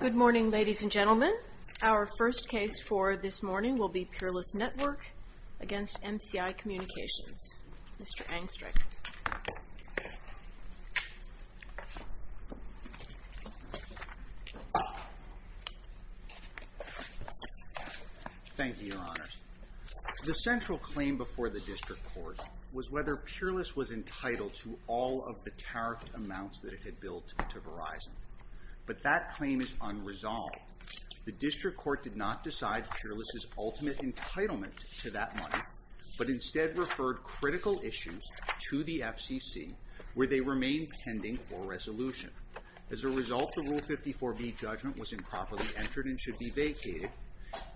Good morning, ladies and gentlemen. Our first case for this morning will be Peerless Network against MCI Communications. Mr. Angstreich. Thank you, Your Honors. The central claim before the District Court was whether Peerless was entitled to all of the tariffed amounts that it had billed to Verizon. But that claim is unresolved. The District Court did not decide Peerless's ultimate entitlement to that money, but instead referred critical issues to the FCC, where they remain pending for resolution. As a result, the Rule 54b judgment was improperly entered and should be vacated,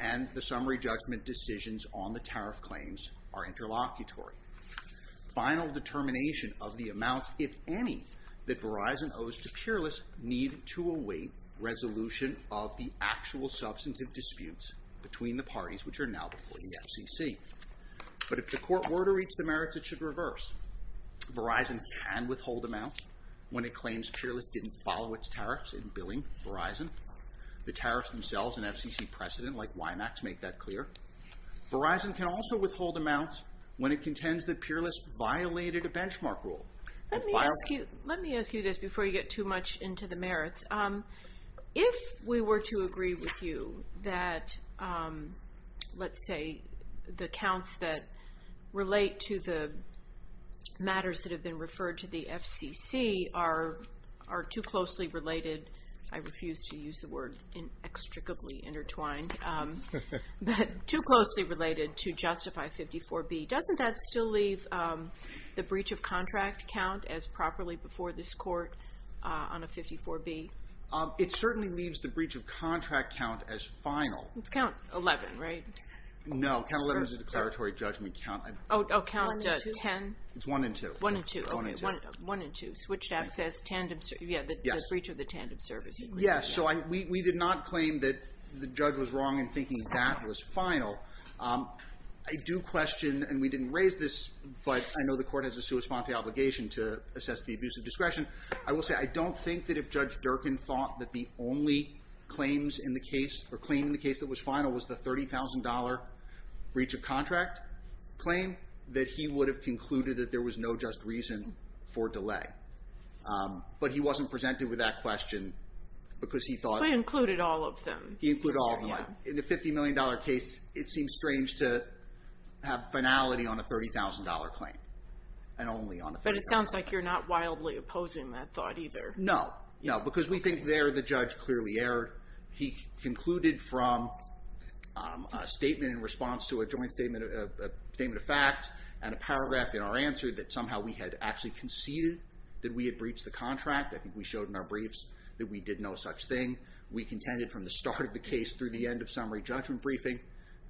and the summary judgment decisions on the tariff claims are interlocutory. Final determination of the amounts, if any, that Verizon owes to Peerless need to await resolution of the actual substantive disputes between the parties, which are now before the FCC. But if the Court were to reach the merits, it should reverse. Verizon can withhold amounts when it claims Peerless didn't follow its tariffs in billing Verizon. The tariffs themselves and FCC precedent, like WIMAX, make that clear. Verizon can also withhold amounts when it contends that Peerless violated a benchmark rule. Let me ask you this before you get too much into the merits. If we were to agree with you that, let's say, the counts that relate to the matters that have been referred to the FCC are too closely related to justify 54b, doesn't that still leave the breach of contract count as properly before this Court on a 54b? It certainly leaves the breach of One and two, switched access, the breach of the tandem service agreement. Yes, so we did not claim that the judge was wrong in thinking that was final. I do question, and we didn't raise this, but I know the Court has a sua sponte obligation to assess the abuse of discretion. I will say, I don't think that if Judge Durkin thought that the only claims in the case or claim in the case that was final was the $30,000 breach of contract claim, that he would have concluded that there was no just reason for delay. But he wasn't presented with that question because he thought... He included all of them. He included all of them. In a $50 million case, it seems strange to have finality on a $30,000 claim and only on a $30,000 claim. But it sounds like you're not wildly opposing that thought either. No, no, because we think there the judge clearly erred. He concluded from a statement in fact and a paragraph in our answer that somehow we had actually conceded that we had breached the contract. I think we showed in our briefs that we did no such thing. We contended from the start of the case through the end of summary judgment briefing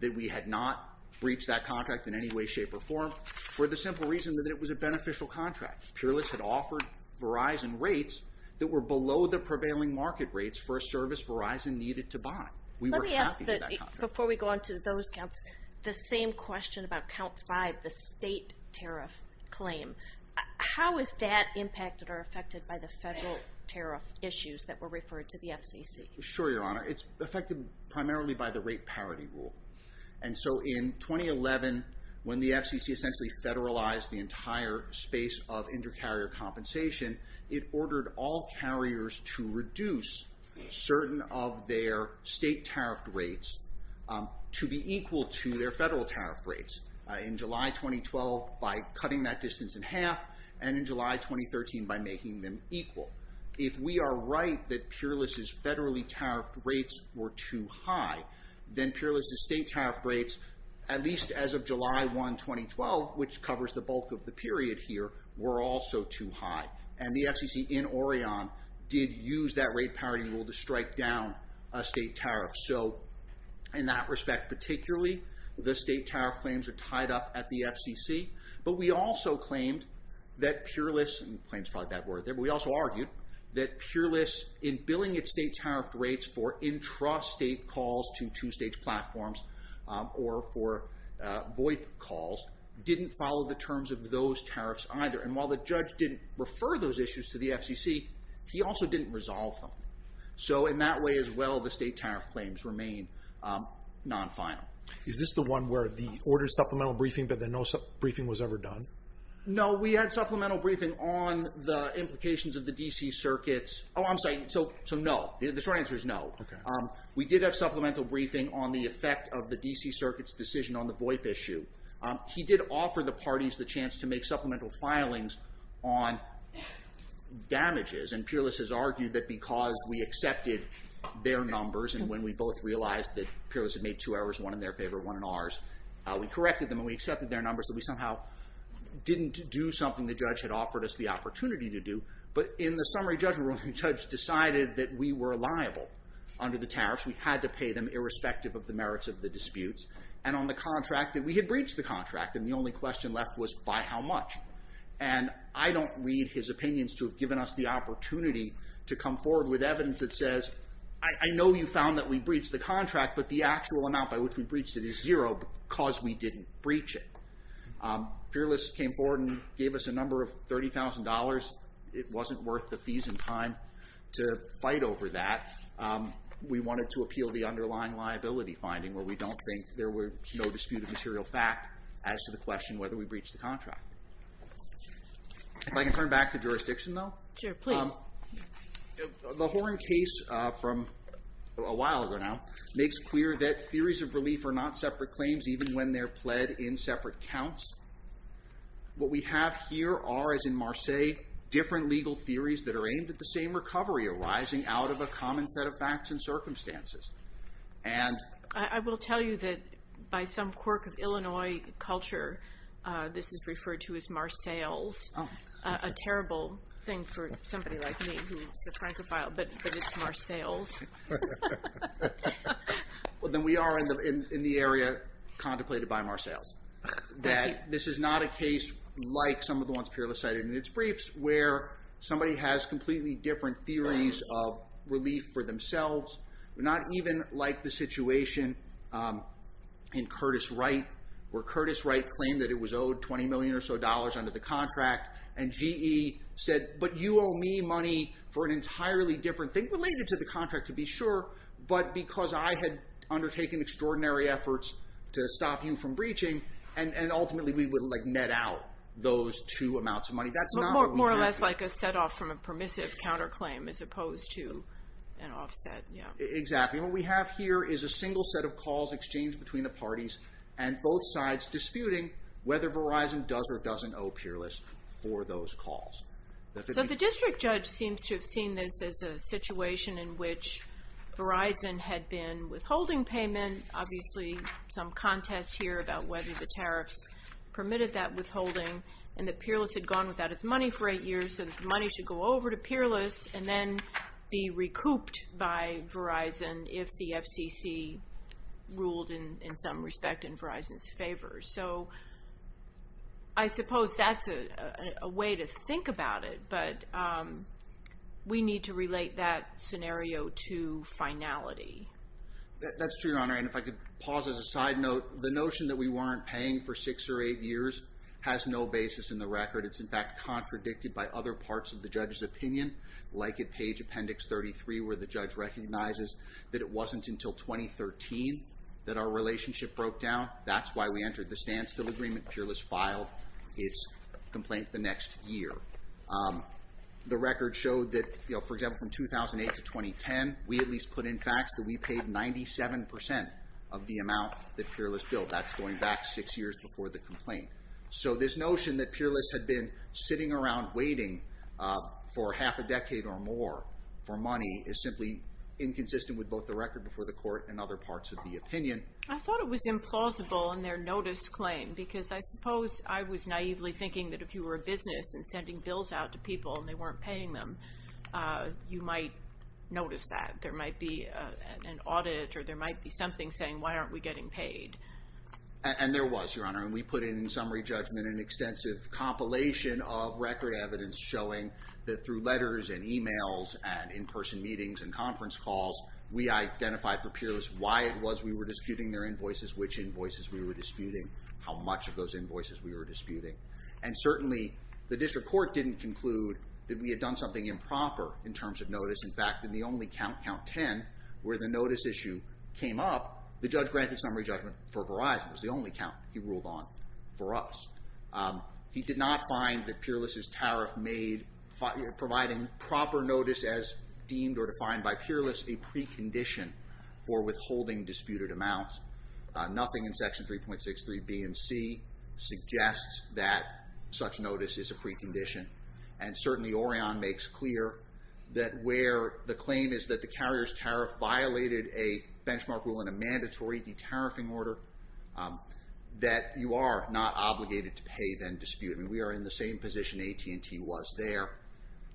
that we had not breached that contract in any way, shape, or form for the simple reason that it was a beneficial contract. Pure List had offered Verizon rates that were below the prevailing market rates for a service Verizon needed to buy. We were happy with that contract. Let me ask, before we go on to those the same question about Count 5, the state tariff claim. How is that impacted or affected by the federal tariff issues that were referred to the FCC? Sure, Your Honor. It's affected primarily by the rate parity rule. In 2011, when the FCC essentially federalized the entire space of inter-carrier compensation, it ordered all carriers to reduce certain of their state tariff rates to be equal to their federal tariff rates. In July 2012, by cutting that distance in half, and in July 2013, by making them equal. If we are right that Pure List's federally tariffed rates were too high, then Pure List's state tariff rates, at least as of July 1, 2012, which covers the bulk of the period here, were also too high. The FCC in Orion did use that rate parity rule to strike down a state tariff. In that respect, particularly, the state tariff claims are tied up at the FCC. We also argued that Pure List in billing its state tariff rates for intrastate calls to two-stage platforms, or for VoIP calls, didn't follow the terms of those tariffs either. While the judge didn't refer those issues to the FCC, he also didn't resolve them. In that way, as well, the state tariff claims remain non-final. Is this the one where the order supplemental briefing, but then no briefing was ever done? No, we had supplemental briefing on the implications of the DC circuits. Oh, I'm sorry, so no. The short answer is no. We did have supplemental briefing on the effect of the DC circuits decision on the VoIP issue. He did offer the parties the supplemental filings on damages. And Pure List has argued that because we accepted their numbers, and when we both realized that Pure List had made two errors, one in their favor, one in ours, we corrected them, and we accepted their numbers, that we somehow didn't do something the judge had offered us the opportunity to do. But in the summary judgment room, the judge decided that we were liable under the tariffs. We had to pay them irrespective of the merits of the disputes. And on the contract, that we had breached the contract, and the only question left was, by how much? And I don't read his opinions to have given us the opportunity to come forward with evidence that says, I know you found that we breached the contract, but the actual amount by which we breached it is zero, because we didn't breach it. Pure List came forward and gave us a number of $30,000. It wasn't worth the fees and time to fight over that. We wanted to appeal the underlying liability finding where we don't think there were no dispute of material fact as to the question whether we breached the contract. If I can turn back to jurisdiction, though. Sure, please. The Horne case from a while ago now makes clear that theories of relief are not separate claims, even when they're pled in separate counts. What we have here are, as in Marseilles, different legal theories that are aimed at the same recovery arising out of a common set of facts and circumstances. I will tell you that by some quirk of Illinois culture, this is referred to as Marseilles. A terrible thing for somebody like me, who is a Francophile, but it's Marseilles. Well, then we are in the area contemplated by Marseilles, that this is not a case like some of the ones Pure List cited in its briefs, where somebody has completely different theories of themselves. Not even like the situation in Curtis Wright, where Curtis Wright claimed that it was owed $20 million or so dollars under the contract, and GE said, but you owe me money for an entirely different thing related to the contract, to be sure, but because I had undertaken extraordinary efforts to stop you from breaching, and ultimately we would net out those two amounts of money. More or less like a set off from a permissive counterclaim, as opposed to an offset. Exactly. What we have here is a single set of calls exchanged between the parties, and both sides disputing whether Verizon does or doesn't owe Pure List for those calls. The district judge seems to have seen this as a situation in which Verizon had been withholding payment, obviously some contest here about whether the tariffs permitted that withholding, and that Pure List had gone without its money for eight years, so the money should go over to Pure List and then be recouped by Verizon if the FCC ruled in some respect in Verizon's favor. I suppose that's a way to think about it, but we need to relate that scenario to finality. That's true, Your Honor, and if I could pause as a side note, the notion that we weren't paying for six or eight years has no basis in the record. It's in fact contradicted by other parts of the judge's opinion, like at page appendix 33, where the judge recognizes that it wasn't until 2013 that our relationship broke down. That's why we entered the standstill agreement. Pure List filed its complaint the next year. The record showed that, for example, from 2008 to 2010, we at least put in facts that we paid 97% of the amount that Pure List billed. That's going back six years before the complaint. So this notion that Pure List had been sitting around waiting for half a decade or more for money is simply inconsistent with both the record before the court and other parts of the opinion. I thought it was implausible in their notice claim, because I suppose I was naively thinking that if you were a business and sending bills out to people and they weren't paying them, you might notice that. There might be an audit or there was, Your Honor, and we put in summary judgment an extensive compilation of record evidence showing that through letters and emails and in-person meetings and conference calls, we identified for Pure List why it was we were disputing their invoices, which invoices we were disputing, how much of those invoices we were disputing. And certainly the district court didn't conclude that we had done something improper in terms of notice. In fact, in the only count, count 10, where the notice issue came up, the judge granted summary judgment for Verizon. It was the only ruled on for us. He did not find that Pure List's tariff made providing proper notice as deemed or defined by Pure List a precondition for withholding disputed amounts. Nothing in section 3.63 B and C suggests that such notice is a precondition. And certainly Orion makes clear that where the claim is that the carrier's tariff violated a benchmark rule in a mandatory tariffing order, that you are not obligated to pay then dispute. And we are in the same position AT&T was there.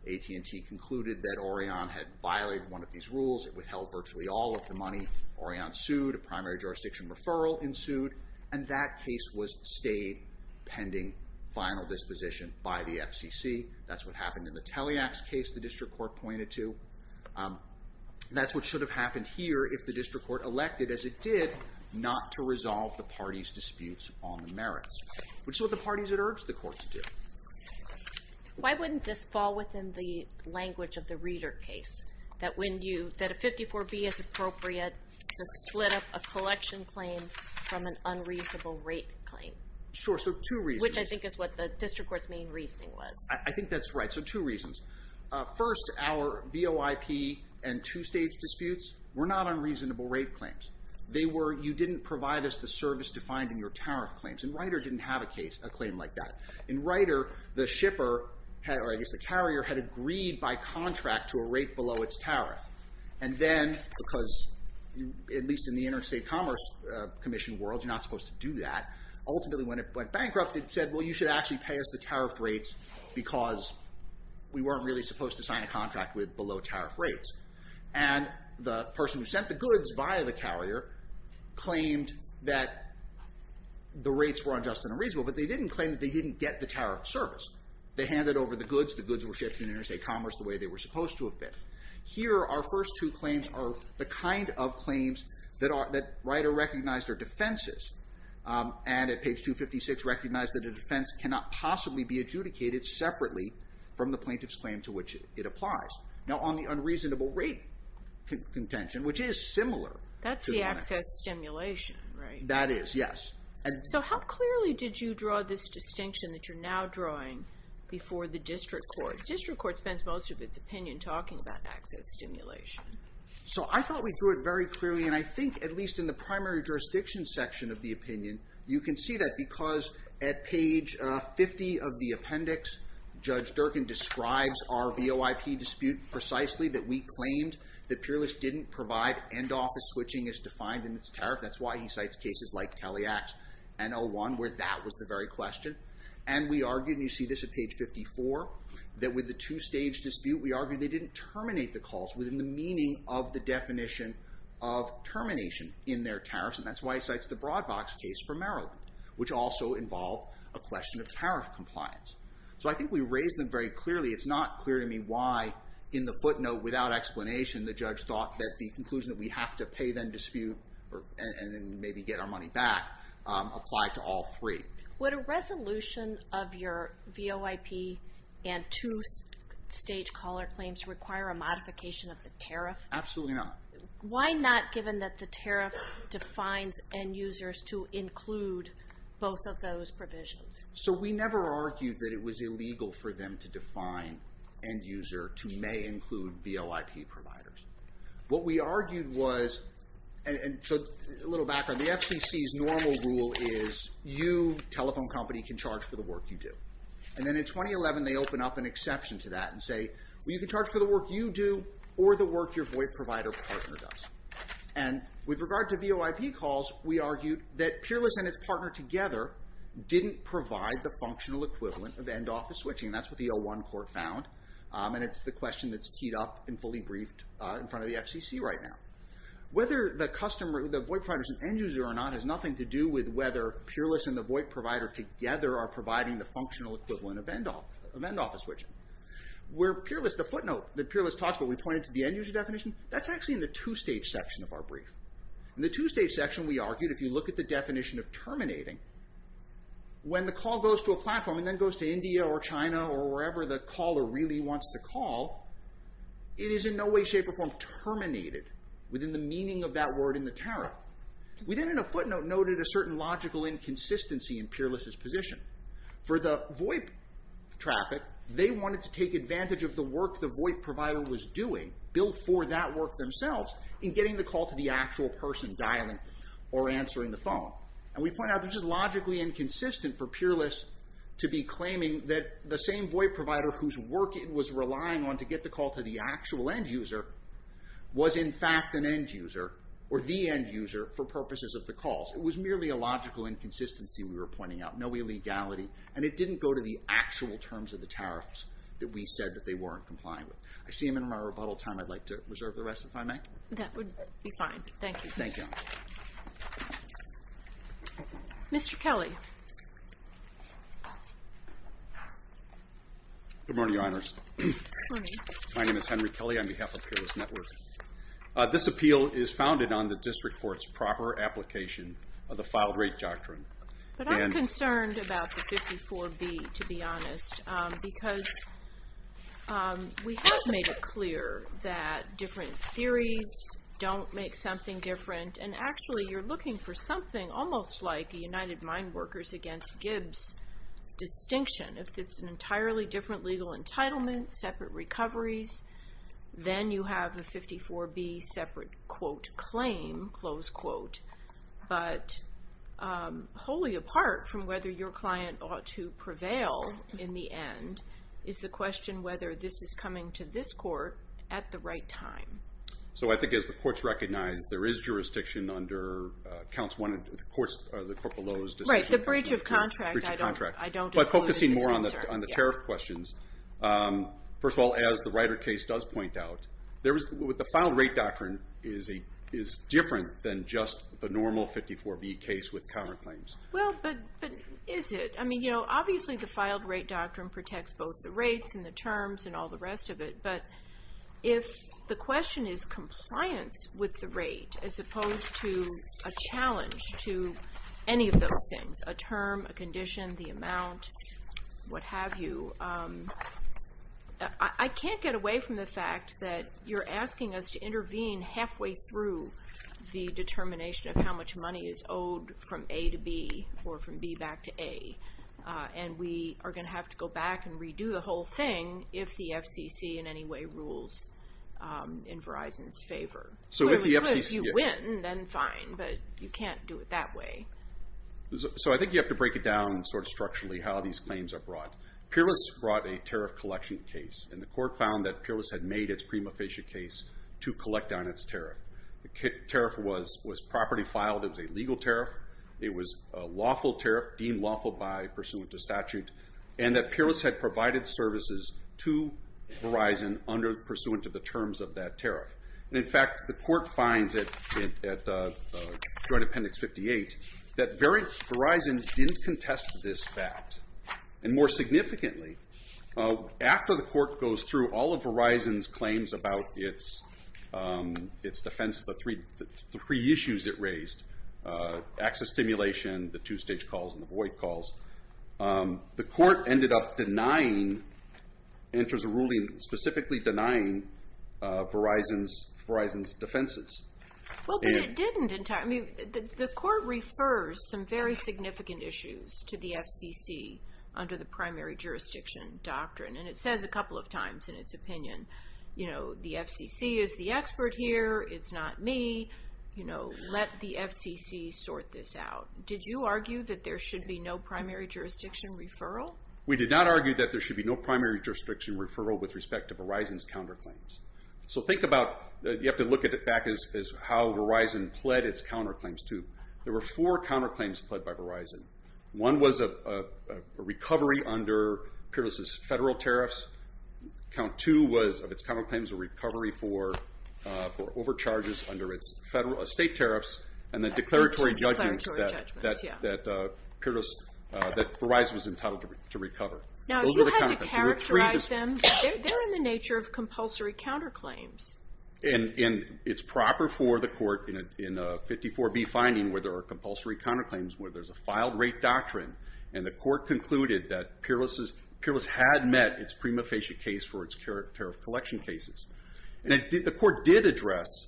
AT&T concluded that Orion had violated one of these rules. It withheld virtually all of the money. Orion sued. A primary jurisdiction referral ensued. And that case was stayed pending final disposition by the FCC. That's what happened in the Teleax case, the district court pointed to. That's what should have happened here if the district court elected as it did not to resolve the party's disputes on the merits, which is what the parties had urged the court to do. Why wouldn't this fall within the language of the reader case that when you, that a 54 B is appropriate to split up a collection claim from an unreasonable rate claim? Sure. So two reasons. Which I think is what the district court's main reasoning was. I think that's right. So two reasons. First, our VOIP and two-stage disputes were not unreasonable rate claims. They were, you didn't provide us the service defined in your tariff claims. And Rider didn't have a case, a claim like that. In Rider, the shipper, or I guess the carrier, had agreed by contract to a rate below its tariff. And then, because at least in the interstate commerce commission world, you're not supposed to do that. Ultimately when it went bankrupt, it said, well, you should actually pay us the tariff rates because we weren't really supposed to sign a contract with below tariff rates. And the person who sent the goods via the carrier claimed that the rates were unjust and unreasonable, but they didn't claim that they didn't get the tariff service. They handed over the goods, the goods were shipped in interstate commerce the way they were supposed to have been. Here, our first two claims are the kind of claims that Rider recognized are defenses. And at page 256, recognized that a defense cannot possibly be adjudicated separately from the plaintiff's claim to which it applies. Now, on the unreasonable rate contention, which is similar. That's the access stimulation, right? That is, yes. So how clearly did you draw this distinction that you're now drawing before the district court? The district court spends most of its opinion talking about access stimulation. So I thought we threw it very clearly. And I think at least in the primary jurisdiction section of the opinion, you can see that because at page 50 of the appendix, Judge Durkin describes our VOIP dispute precisely, that we claimed that Peerless didn't provide end office switching as defined in its tariff. That's why he cites cases like Teliax and 01, where that was the very question. And we argued, and you see this at page 54, that with the two stage dispute, we argued they didn't terminate the calls within the meaning of the definition of termination in their tariffs. And that's why he cites the Broadvox case from Maryland, which also involved a question of tariff compliance. So I think we raised them very clearly. It's not clear to me why, in the footnote without explanation, the judge thought that the conclusion that we have to pay them dispute and then maybe get our money back applied to all three. Would a resolution of your VOIP and two stage caller claims require a modification of the tariff? Absolutely not. Why not, given that the tariff defines end users to include both of those provisions? So we never argued that it was illegal for them to define end user to may include VOIP providers. What we argued was, and so a little background, the FCC's normal rule is you, telephone company, can charge for the work you do. And then in 2011, they open up an exception to that and say, well, you can charge for the work you do or the work your VOIP provider partner does. And with regard to VOIP calls, we argued that Peerless and its partner together didn't provide the functional equivalent of end office switching. That's what the 01 court found. And it's the question that's teed up and fully briefed in front of the FCC right now. Whether the customer, the VOIP provider is an end user or not has nothing to do with whether Peerless and the VOIP provider together are providing the functional equivalent of end office switching. Where Peerless, the footnote that Peerless talks about, we pointed to the end user definition, that's actually in the two-stage section of our brief. In the two-stage section, we argued if you look at the definition of terminating, when the call goes to a platform and then goes to India or China or wherever the caller really wants to call, it is in no way, shape, or form terminated within the meaning of that word in the tariff. We then in a footnote noted a certain logical inconsistency in Peerless's position. For the VOIP traffic, they wanted to take advantage of the work the VOIP provider was doing, built for that work themselves, in getting the call to the actual person dialing or answering the phone. And we point out this is logically inconsistent for Peerless to be claiming that the same VOIP provider whose work it was relying on to get the call to the actual end user was in fact an end user, or the end user, for purposes of the calls. It was merely a logical inconsistency we were pointing out, no illegality, and it didn't go to the actual terms of the tariffs that we said that they weren't complying with. I see him in my rebuttal time. I'd like to reserve the rest if I may. That would be fine. Thank you. Thank you. Mr. Kelly. Good morning, Your Honors. Good morning. My name is Henry Kelly on behalf of Peerless Network. This appeal is founded on the district court's proper application of the filed rate doctrine. But I'm concerned about the 54B, to be honest, because we have made it clear that different theories don't make something different, and actually you're looking for something almost like a United Mine Workers against Gibbs distinction. If it's an entirely different entitlement, separate recoveries, then you have a 54B separate, quote, claim, close quote. But wholly apart from whether your client ought to prevail in the end is the question whether this is coming to this court at the right time. So I think as the courts recognize there is jurisdiction under the court below's decision. Right, the breach of contract. But focusing more on the tariff questions, first of all, as the Ryder case does point out, the filed rate doctrine is different than just the normal 54B case with common claims. Well, but is it? I mean, you know, obviously the filed rate doctrine protects both the rates and the terms and all rest of it. But if the question is compliance with the rate as opposed to a challenge to any of those things, a term, a condition, the amount, what have you, I can't get away from the fact that you're asking us to intervene halfway through the determination of how much money is owed from A to B or from B back to A. And we are going to have to go back and redo the thing if the FCC in any way rules in Verizon's favor. So if you win, then fine. But you can't do it that way. So I think you have to break it down sort of structurally how these claims are brought. Peerless brought a tariff collection case. And the court found that Peerless had made its prima facie case to collect on its tariff. The tariff was property filed. It was a legal tariff. It was a lawful tariff, deemed lawful by pursuant to statute. And that Peerless had provided services to Verizon under pursuant to the terms of that tariff. And in fact, the court finds at Joint Appendix 58 that Verizon didn't contest this fact. And more significantly, after the court goes through all of Verizon's claims about its defense, the three issues it stimulated, the two-stage calls and the void calls, the court ended up denying, enters a ruling specifically denying Verizon's defenses. Well, but it didn't entirely. The court refers some very significant issues to the FCC under the primary jurisdiction doctrine. And it says a couple of times in its opinion, the FCC is the expert here. It's not me. Let the FCC sort this out. Did you argue that there should be no primary jurisdiction referral? We did not argue that there should be no primary jurisdiction referral with respect to Verizon's counterclaims. So think about, you have to look at it back as how Verizon pled its counterclaims to. There were four counterclaims pled by Verizon. One was a recovery under Pyrrhus' federal tariffs. Count two was, of its counterclaims, a recovery for overcharges under its federal, state tariffs, and the declaratory judgments that Pyrrhus, that Verizon was entitled to recover. Now, if you had to characterize them, they're in the nature of compulsory counterclaims. And it's proper for the court in a 54B finding where there are compulsory counterclaims, where there's a filed rate doctrine, and the court concluded that Pyrrhus had met its prima facie case for its tariff collection cases. And the court did address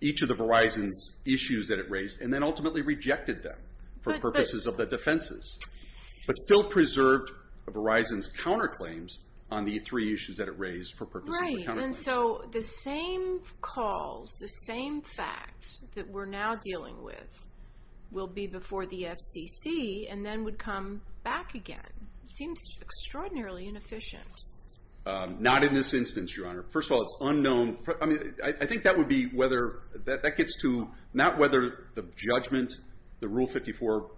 each of the Verizon's issues that it raised, and then ultimately rejected them for purposes of the defenses, but still preserved Verizon's counterclaims on the three issues that it raised for purposes of the counterclaims. Right. And so the same calls, the same facts that we're now dealing with will be before the FCC and then would come back again. It seems extraordinarily inefficient. Not in this instance, Your Honor. First of all, it's unknown. I think that would be whether, that gets to not whether the judgment, the Rule 54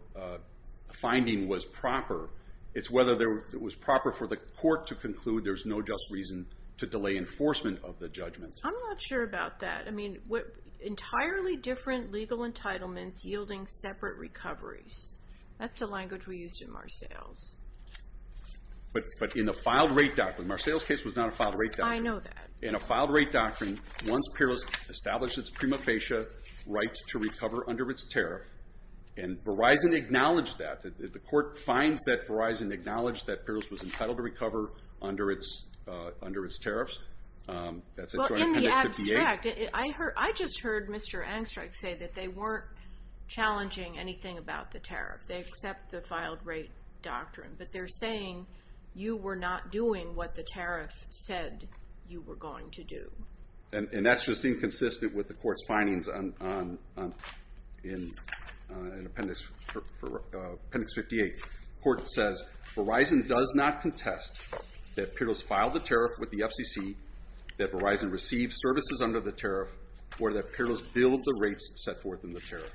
finding was proper. It's whether it was proper for the court to conclude there's no just reason to delay enforcement of the judgment. I'm not sure about that. I mean, entirely different legal entitlements yielding separate recoveries. That's the language we used in Marcell's. But in the filed rate doctrine, Marcell's case was not a filed rate doctrine. I know that. In a filed rate doctrine, once Pyrrhus established its prima facie right to recover under its tariff, and Verizon acknowledged that, the court finds that Verizon acknowledged that Pyrrhus was entitled to recover under its tariffs. Well, in the abstract, I just heard Mr. Angstreich say that they weren't challenging anything about the tariff. They accept the filed rate doctrine. But they're saying you were not doing what the tariff said you were going to do. And that's just inconsistent with the court's findings in Appendix 58. The court says Verizon does not contest that Pyrrhus filed the tariff with the FCC, that Verizon received services under the tariff, or that Pyrrhus billed the rates set forth in the tariff.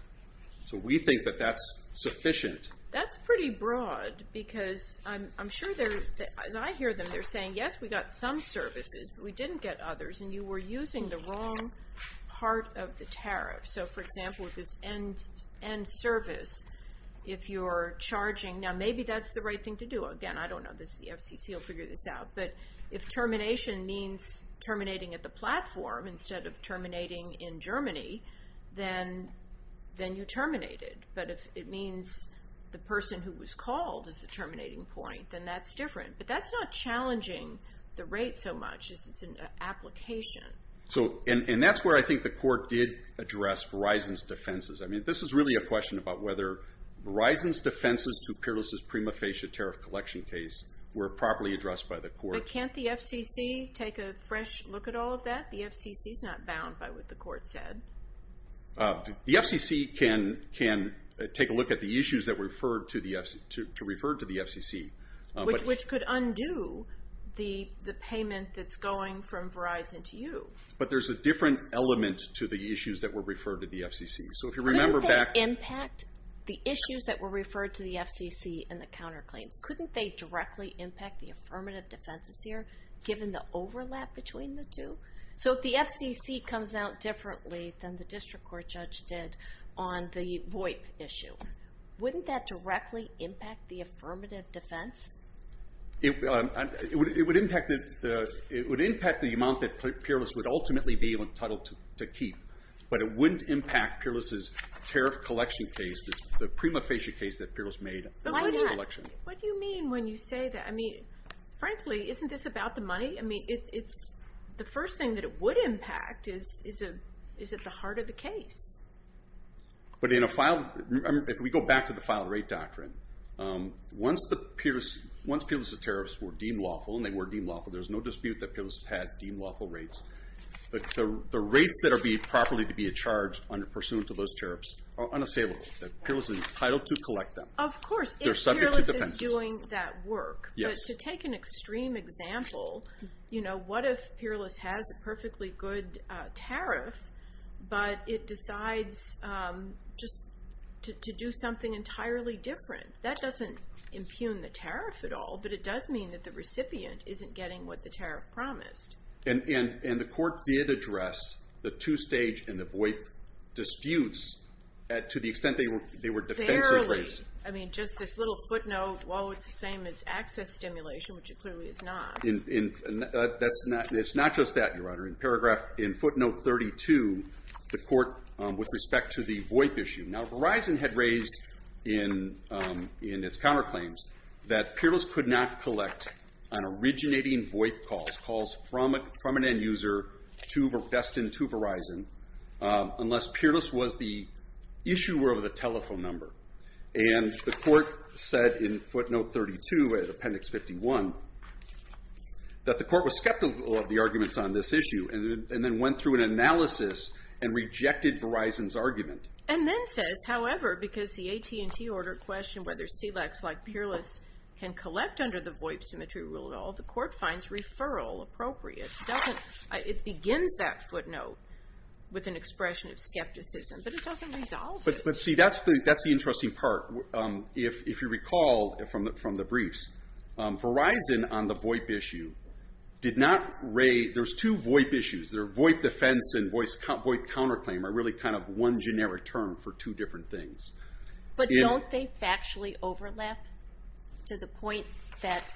So we think that that's sufficient. That's pretty broad because I'm sure they're, as I hear them, they're saying, yes, we got some services, but we didn't get others, and you were using the wrong part of the tariff. So for example, with this end service, if you're charging, now maybe that's the right thing to do. Again, I don't know. The FCC will figure this out. But if termination means terminating at the platform instead of terminating in Germany, then you terminate it. But if it means the person who was called is the terminating point, then that's different. But that's not challenging the rate so it's an application. And that's where I think the court did address Verizon's defenses. I mean, this is really a question about whether Verizon's defenses to Pyrrhus' prima facie tariff collection case were properly addressed by the court. But can't the FCC take a fresh look at all of that? The FCC is not bound by what the court said. The FCC can take a look at the issues that were to refer to the FCC. Which could undo the payment that's going from Verizon to you. But there's a different element to the issues that were referred to the FCC. So if you remember- Couldn't they impact the issues that were referred to the FCC in the counterclaims? Couldn't they directly impact the affirmative defenses here, given the overlap between the two? So if the FCC comes out differently than the district court judge did on the VoIP issue, wouldn't that directly impact the affirmative defense? It would impact the amount that Pyrrhus would ultimately be entitled to keep. But it wouldn't impact Pyrrhus' tariff collection case, the prima facie case that Pyrrhus made. What do you mean when you say that? I mean, frankly, isn't this about the money? I mean, the first thing that it would impact is at the heart of the case. But if we go back to the file rate doctrine, once Pyrrhus' tariffs were deemed lawful, and they were deemed lawful, there's no dispute that Pyrrhus had deemed lawful rates. But the rates that are being properly charged pursuant to those tariffs are unassailable. That Pyrrhus is entitled to collect them. Of course, if Pyrrhus is doing that work. But to take an extreme example, what if Pyrrhus has a perfectly good tariff, but it decides just to do something entirely different? That doesn't impugn the tariff at all. But it does mean that the recipient isn't getting what the tariff promised. And the court did address the two-stage and the void disputes, to the extent they were defensive rates. Barely. I mean, just this little footnote, well, it's the same as access stimulation, which it clearly is not. And it's not just that, Your Honor. In paragraph, in footnote 32, the court, with respect to the VOIP issue. Now, Verizon had raised in its counterclaims that Pyrrhus could not collect on originating VOIP calls, calls from an end user destined to Verizon, unless Pyrrhus was the issuer of the telephone number. And the court said in footnote 32, appendix 51, that the court was skeptical of the arguments on this issue, and then went through an analysis and rejected Verizon's argument. And then says, however, because the AT&T order questioned whether SELEX, like Pyrrhus, can collect under the VOIP symmetry rule at all, the court finds referral appropriate. It begins that footnote with an expression of skepticism, but it doesn't resolve it. But see, that's the interesting part. If you recall from the briefs, Verizon on the VOIP issue did not raise, there's two VOIP issues. There are VOIP defense and VOIP counterclaim, are really kind of one generic term for two different things. But don't they factually overlap to the point that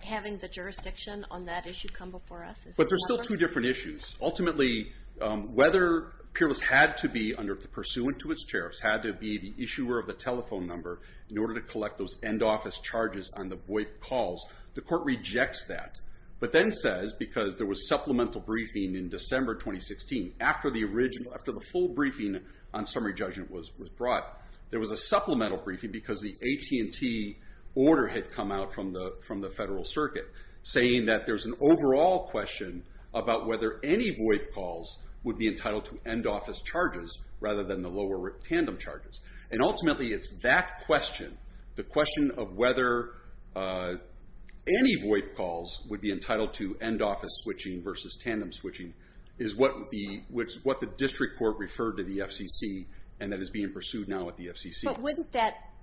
having the jurisdiction on that issue come before us? But there's still two different issues. Ultimately, whether Pyrrhus had to be, pursuant to its chair, had to be the issuer of the telephone number in order to collect those end office charges on the VOIP calls, the court rejects that. But then says, because there was supplemental briefing in December 2016, after the original, after the full briefing on summary judgment was brought, there was a supplemental briefing because the AT&T order had come out from the federal circuit, saying that there's an overall question about whether any VOIP calls would be entitled to end office charges rather than the lower tandem charges. And ultimately, it's that question, the question of whether any VOIP calls would be entitled to end office switching versus tandem switching, is what the district court referred to the FCC, and that is being pursued now at the FCC. But wouldn't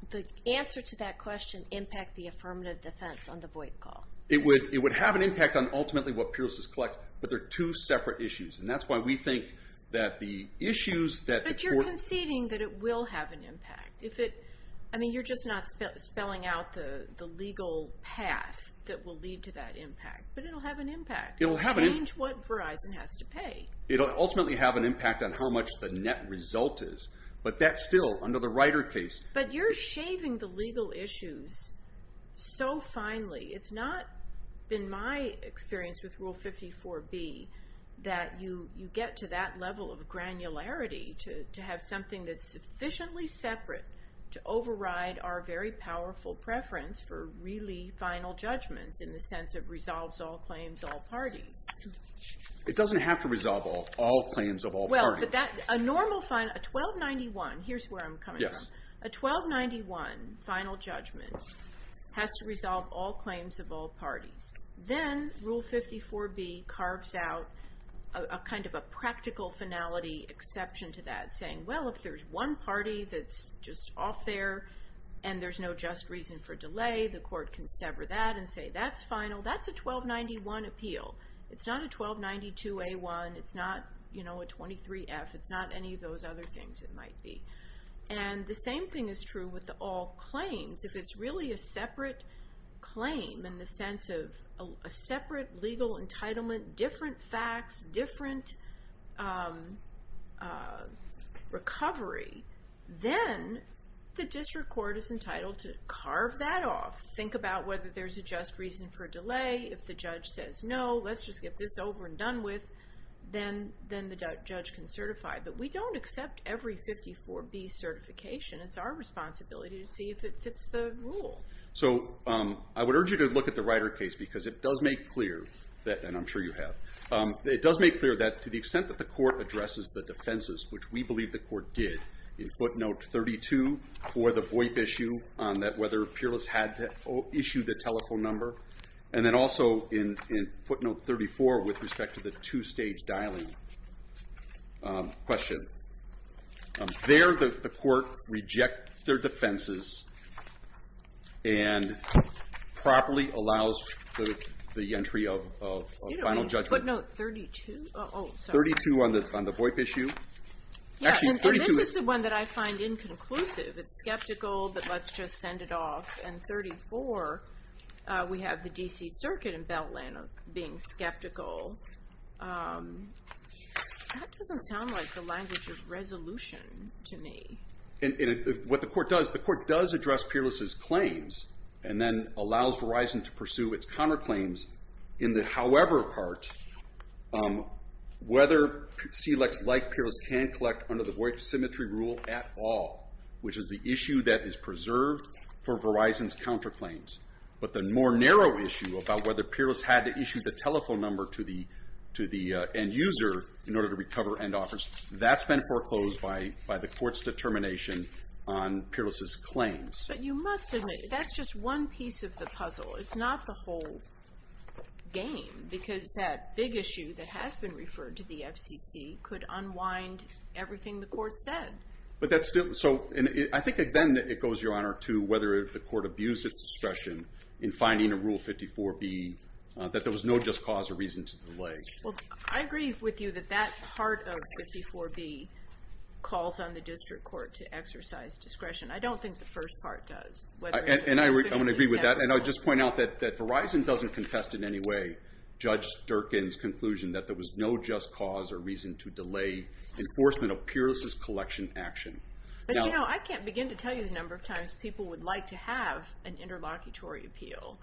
the answer to that question impact the affirmative defense on the VOIP call? It would have an impact on, ultimately, what Pyrrhus is collecting, but they're two separate issues, and that's why we think that the issues that the court... But you're conceding that it will have an impact. I mean, you're just not spelling out the legal path that will lead to that impact, but it'll have an impact. It'll change what Verizon has to pay. It'll ultimately have an impact on how much the net result is, but that's still, under the Ryder case... But you're shaving the legal issues so finely. It's not been my experience with Rule 54B that you get to that level of granularity to have something that's sufficiently separate to override our very powerful preference for really final judgments in the sense of resolves all claims, all parties. It doesn't have to resolve all claims of all parties. A normal final, a 1291, here's where I'm coming from, a 1291 final judgment has to resolve all claims of all parties. Then Rule 54B carves out a practical finality exception to that, saying, well, if there's one party that's just off there and there's no just reason for delay, the court can sever that and say, that's final. That's a 1291 appeal. It's not a 1292A1. It's not a 23F. It's not any of those other things it might be. The same thing is true with the all claims. If it's really a separate claim in the sense of a separate legal entitlement, different facts, different recovery, then the district court is entitled to carve that off. Think about whether there's a just reason for delay. If the judge says, no, let's just get this over and done with, then the judge can certify. But we don't accept every 54B certification. It's our responsibility to see if it fits the rule. So I would urge you to look at the Ryder case because it does make clear that, and I'm sure you have, it does make clear that to the extent that the court addresses the defenses, which we believe the court did in footnote 32 for the VoIP issue on that whether peerless had to issue the footnote 34 with respect to the two-stage dialing question. There the court reject their defenses and properly allows the entry of final judgment. Footnote 32? 32 on the VoIP issue. Yeah, and this is the one that I find inconclusive. It's skeptical, but let's just send it off. And 34, we have the DC Circuit in Beltland being skeptical. That doesn't sound like the language of resolution to me. And what the court does, the court does address peerless' claims and then allows Verizon to pursue its counterclaims in the however part whether SELEX-like peers can collect under VoIP symmetry rule at all, which is the issue that is preserved for Verizon's counterclaims. But the more narrow issue about whether peerless had to issue the telephone number to the end user in order to recover end offers, that's been foreclosed by the court's determination on peerless' claims. But you must admit, that's just one piece of the puzzle. It's not the whole game because that big issue that has been referred to the FCC could unwind everything the court said. But that's still, so I think then it goes, Your Honor, to whether the court abused its discretion in finding a Rule 54B, that there was no just cause or reason to delay. Well, I agree with you that that part of 54B calls on the district court to exercise discretion. I don't think the first part does. And I want to agree with that. And I'll just point out that Verizon doesn't contest in any way Judge Durkin's conclusion that there was no just cause or reason to delay. Enforcement of peerless' collection action. But you know, I can't begin to tell you the number of times people would like to have an interlocutory appeal.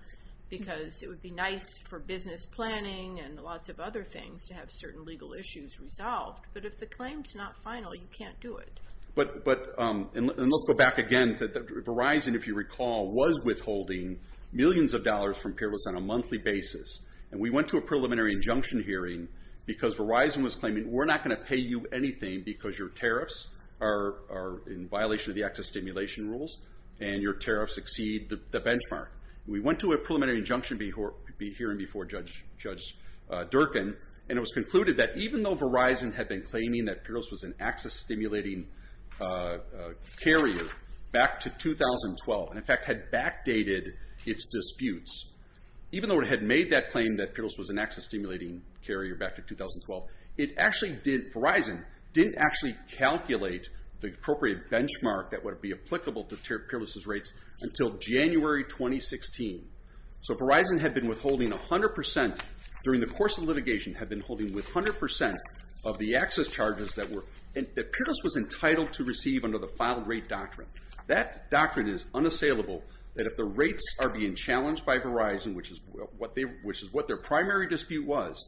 Because it would be nice for business planning and lots of other things to have certain legal issues resolved. But if the claim's not final, you can't do it. But, and let's go back again, Verizon, if you recall, was withholding millions of dollars from peerless on a monthly basis. And we went to a preliminary injunction hearing because Verizon was claiming, we're not going to pay you anything because your tariffs are in violation of the access stimulation rules, and your tariffs exceed the benchmark. We went to a preliminary injunction hearing before Judge Durkin, and it was concluded that even though Verizon had been claiming that peerless was an access stimulating carrier back to 2012, and in fact had backdated its disputes, even though it had made that peerless was an access stimulating carrier back to 2012, it actually did, Verizon, didn't actually calculate the appropriate benchmark that would be applicable to peerless' rates until January 2016. So Verizon had been withholding 100%, during the course of litigation, had been holding with 100% of the access charges that were, that peerless was entitled to receive under the filed rate doctrine. That doctrine is unassailable, that if the rates are being challenged by Verizon, which is what their primary dispute was,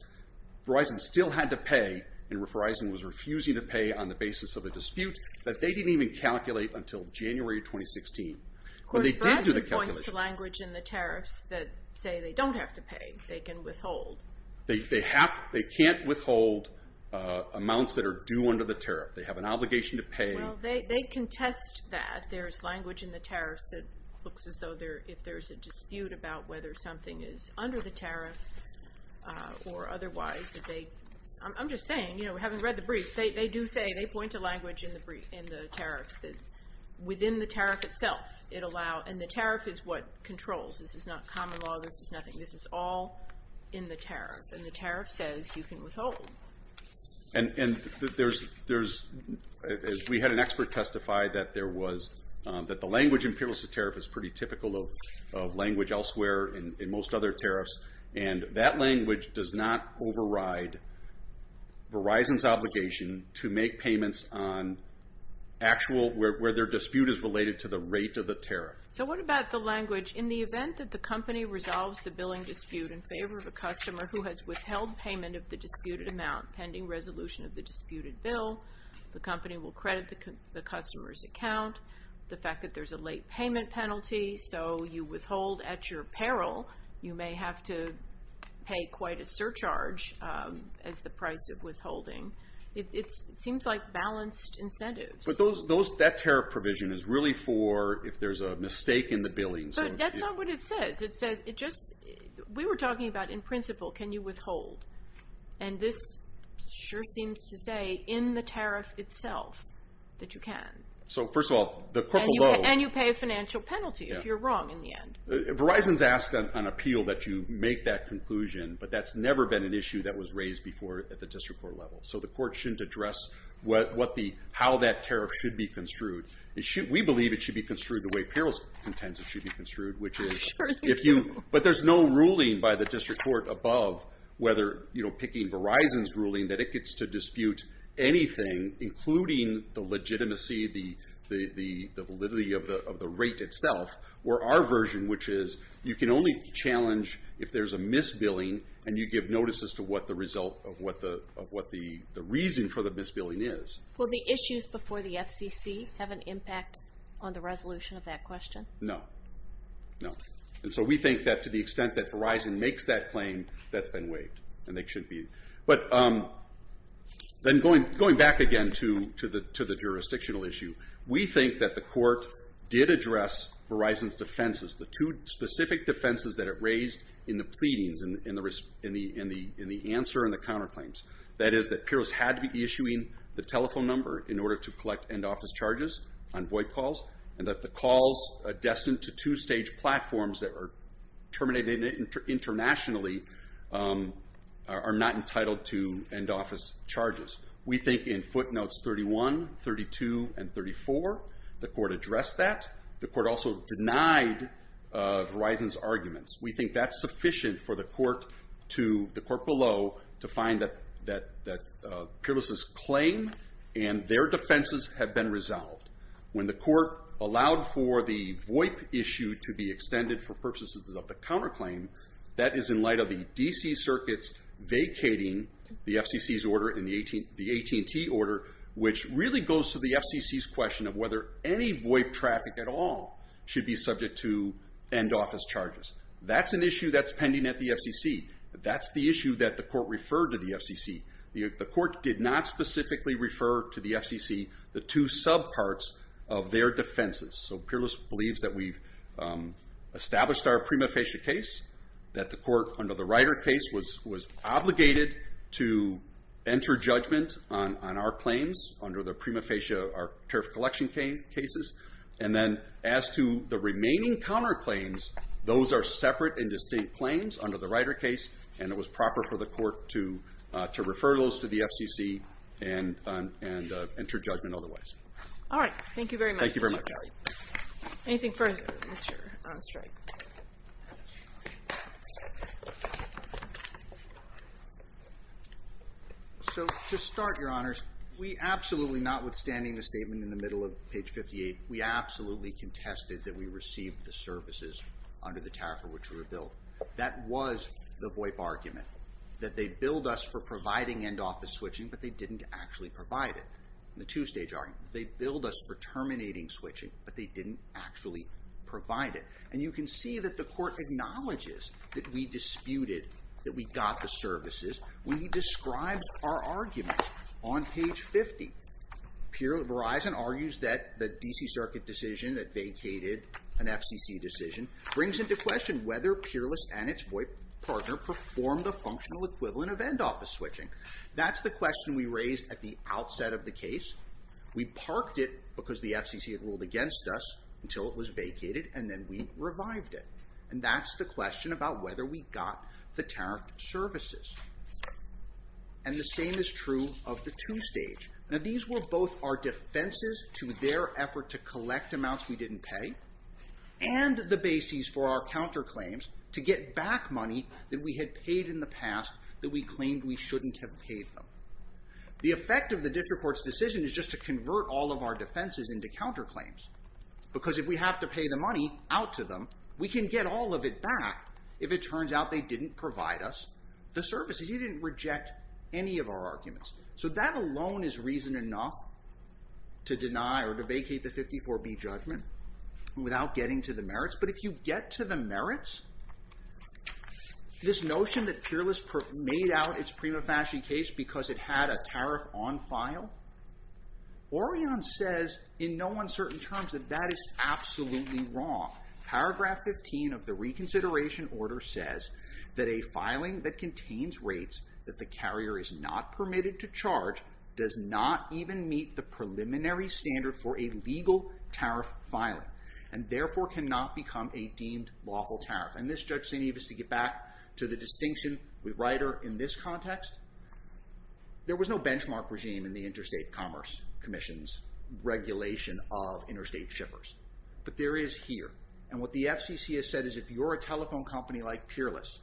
Verizon still had to pay, and Verizon was refusing to pay on the basis of a dispute that they didn't even calculate until January 2016. But they did do the calculation. Of course, Verizon points to language in the tariffs that say they don't have to pay. They can withhold. They can't withhold amounts that are due under the tariff. They have an obligation to pay. Well, they contest that. There's language in the tariffs that looks as though if there's a dispute about whether something is under the tariff or otherwise that they, I'm just saying, you know, having read the briefs, they do say, they point to language in the tariffs that within the tariff itself, it allow, and the tariff is what controls. This is not common law. This is nothing. This is all in the tariff, and the tariff says you can withhold. And there's, as we had an expert testify that there was, that the language in peerless' tariff is pretty typical of language elsewhere in most other tariffs, and that language does not override Verizon's obligation to make payments on actual, where their dispute is related to the rate of the tariff. So what about the language? In the event that the company resolves the billing dispute in favor of a customer who has withheld payment of the disputed amount pending resolution of the disputed bill, the So you withhold at your peril. You may have to pay quite a surcharge as the price of withholding. It seems like balanced incentives. But those, that tariff provision is really for if there's a mistake in the billing. But that's not what it says. It says, it just, we were talking about in principle, can you withhold? And this sure seems to say in the tariff itself that you can. So first of all, the purple bow. And you pay a financial penalty if you're wrong in the end. Verizon's asked on appeal that you make that conclusion, but that's never been an issue that was raised before at the district court level. So the court shouldn't address what the, how that tariff should be construed. It should, we believe it should be construed the way peril's intends it should be construed, which is if you, but there's no ruling by the district court above whether, you know, picking Verizon's ruling that it gets to dispute anything, including the legitimacy, the validity of the rate itself, where our version, which is you can only challenge if there's a misbilling and you give notice as to what the result of what the reason for the misbilling is. Will the issues before the FCC have an impact on the resolution of that question? No, no. And so we think that to the extent that Verizon makes that claim, that's been waived. And they should be. But then going back again to the jurisdictional issue, we think that the court did address Verizon's defenses, the two specific defenses that it raised in the pleadings, in the answer and the counterclaims. That is that PIROS had to be issuing the telephone number in order to collect end office charges on VoIP calls, and that the calls destined to two-stage platforms that are terminated internationally are not entitled to end office charges. We think in footnotes 31, 32, and 34, the court addressed that. The court also denied Verizon's arguments. We think that's sufficient for the court below to find that PIROS's claim and their defenses have been resolved. When the court allowed for the VoIP issue to be extended for purposes of the counterclaim, that is in light of the DC circuits vacating the FCC's order and the AT&T order, which really goes to the FCC's question of whether any VoIP traffic at all should be subject to end office charges. That's an issue that's pending at the FCC. That's the issue that the court referred to the FCC. The court did not specifically refer to the FCC. The two subparts of their defenses, so PIROS believes that we've established our prima facie case, that the court under the Ryder case was obligated to enter judgment on our claims under the prima facie, our tariff collection cases, and then as to the remaining counterclaims, those are separate and distinct claims under the Ryder case, and it was proper for the All right. Thank you very much. Thank you very much. Anything further, Mr. Streit? So, to start, Your Honors, we absolutely, notwithstanding the statement in the middle of page 58, we absolutely contested that we received the services under the tariff for which we were billed. That was the VoIP argument, that they billed us for providing end office switching, but they didn't actually provide it. The two-stage argument, they billed us for terminating switching, but they didn't actually provide it. And you can see that the court acknowledges that we disputed, that we got the services when he describes our arguments. On page 50, Verizon argues that the D.C. Circuit decision that vacated an FCC decision brings into question whether Peerless and its VoIP partner performed a functional equivalent of end office switching. That's the question we raised at the outset of the case. We parked it because the FCC had ruled against us until it was vacated, and then we revived it. And that's the question about whether we got the tariffed services. And the same is true of the two-stage. Now, these were both our defenses to their effort to collect amounts we didn't pay, and the bases for our counterclaims to get back money that we had paid in the past that we shouldn't have paid them. The effect of the district court's decision is just to convert all of our defenses into counterclaims. Because if we have to pay the money out to them, we can get all of it back if it turns out they didn't provide us the services. He didn't reject any of our arguments. So that alone is reason enough to deny or to vacate the 54B judgment without getting to the merits. But if you get to the merits, this notion that Peerless made out its prima facie case because it had a tariff on file, Orion says in no uncertain terms that that is absolutely wrong. Paragraph 15 of the reconsideration order says that a filing that contains rates that the carrier is not permitted to charge does not even meet the preliminary standard for a legal tariff filing. And therefore, cannot become a deemed lawful tariff. And this, Judge St. Eves, to get back to the distinction with Ryder in this context, there was no benchmark regime in the Interstate Commerce Commission's regulation of interstate shippers. But there is here. And what the FCC has said is if you're a telephone company like Peerless,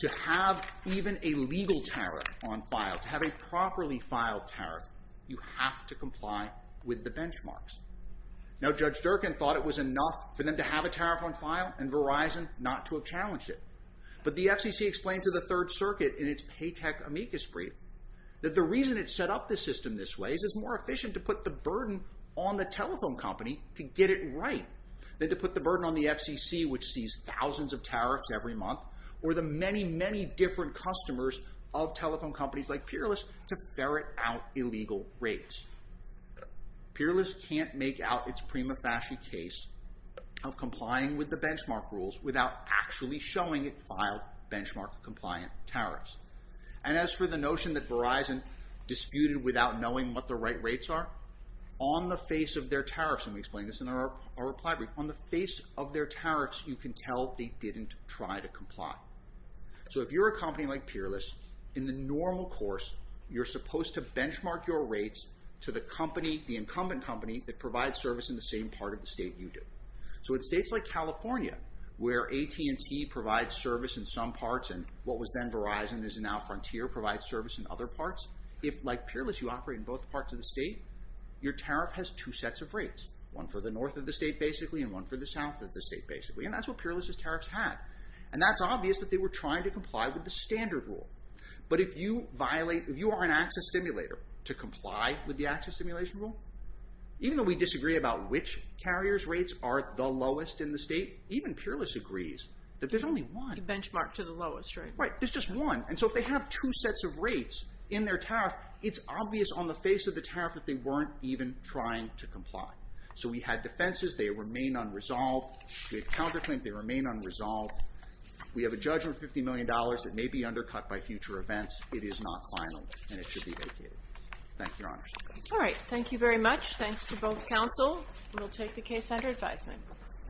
to have even a legal tariff on file, to have a properly filed tariff, you have to comply with the benchmarks. Now, Judge Durkin thought it was enough for them to have a tariff on file and Verizon not to have challenged it. But the FCC explained to the Third Circuit in its Paytech amicus brief that the reason it set up the system this way is it's more efficient to put the burden on the telephone company to get it right than to put the burden on the FCC, which sees thousands of tariffs every month, or the many, many different customers of telephone companies like Peerless to ferret out illegal rates. Peerless can't make out its prima facie case of complying with the benchmark rules without actually showing it filed benchmark-compliant tariffs. And as for the notion that Verizon disputed without knowing what the right rates are, on the face of their tariffs, and we explain this in our reply brief, on the face of their tariffs, you can tell they didn't try to comply. So if you're a company like Peerless, in the normal course, you're supposed to benchmark your rates to the company, the incumbent company that provides service in the same part of the state you do. So in states like California, where AT&T provides service in some parts and what was then Verizon is now Frontier provides service in other parts, if like Peerless you operate in both parts of the state, your tariff has two sets of rates, one for the north of the state basically and one for the south of the state basically, and that's what Peerless's tariffs had. And that's obvious that they were trying to comply with the standard rule. But if you violate, if you are an access stimulator to comply with the access stimulation rule, even though we disagree about which carrier's rates are the lowest in the state, even Peerless agrees that there's only one. You benchmark to the lowest, right? Right, there's just one. And so if they have two sets of rates in their tariff, it's obvious on the face of the tariff that they weren't even trying to comply. So we had defenses, they remain unresolved. We have counterclaims, they remain unresolved. We have a judgment of $50 million that may be undercut by future events. It is not final and it should be vacated. Thank you, Your Honor. All right, thank you very much. Thanks to both counsel. We'll take the case under advisement.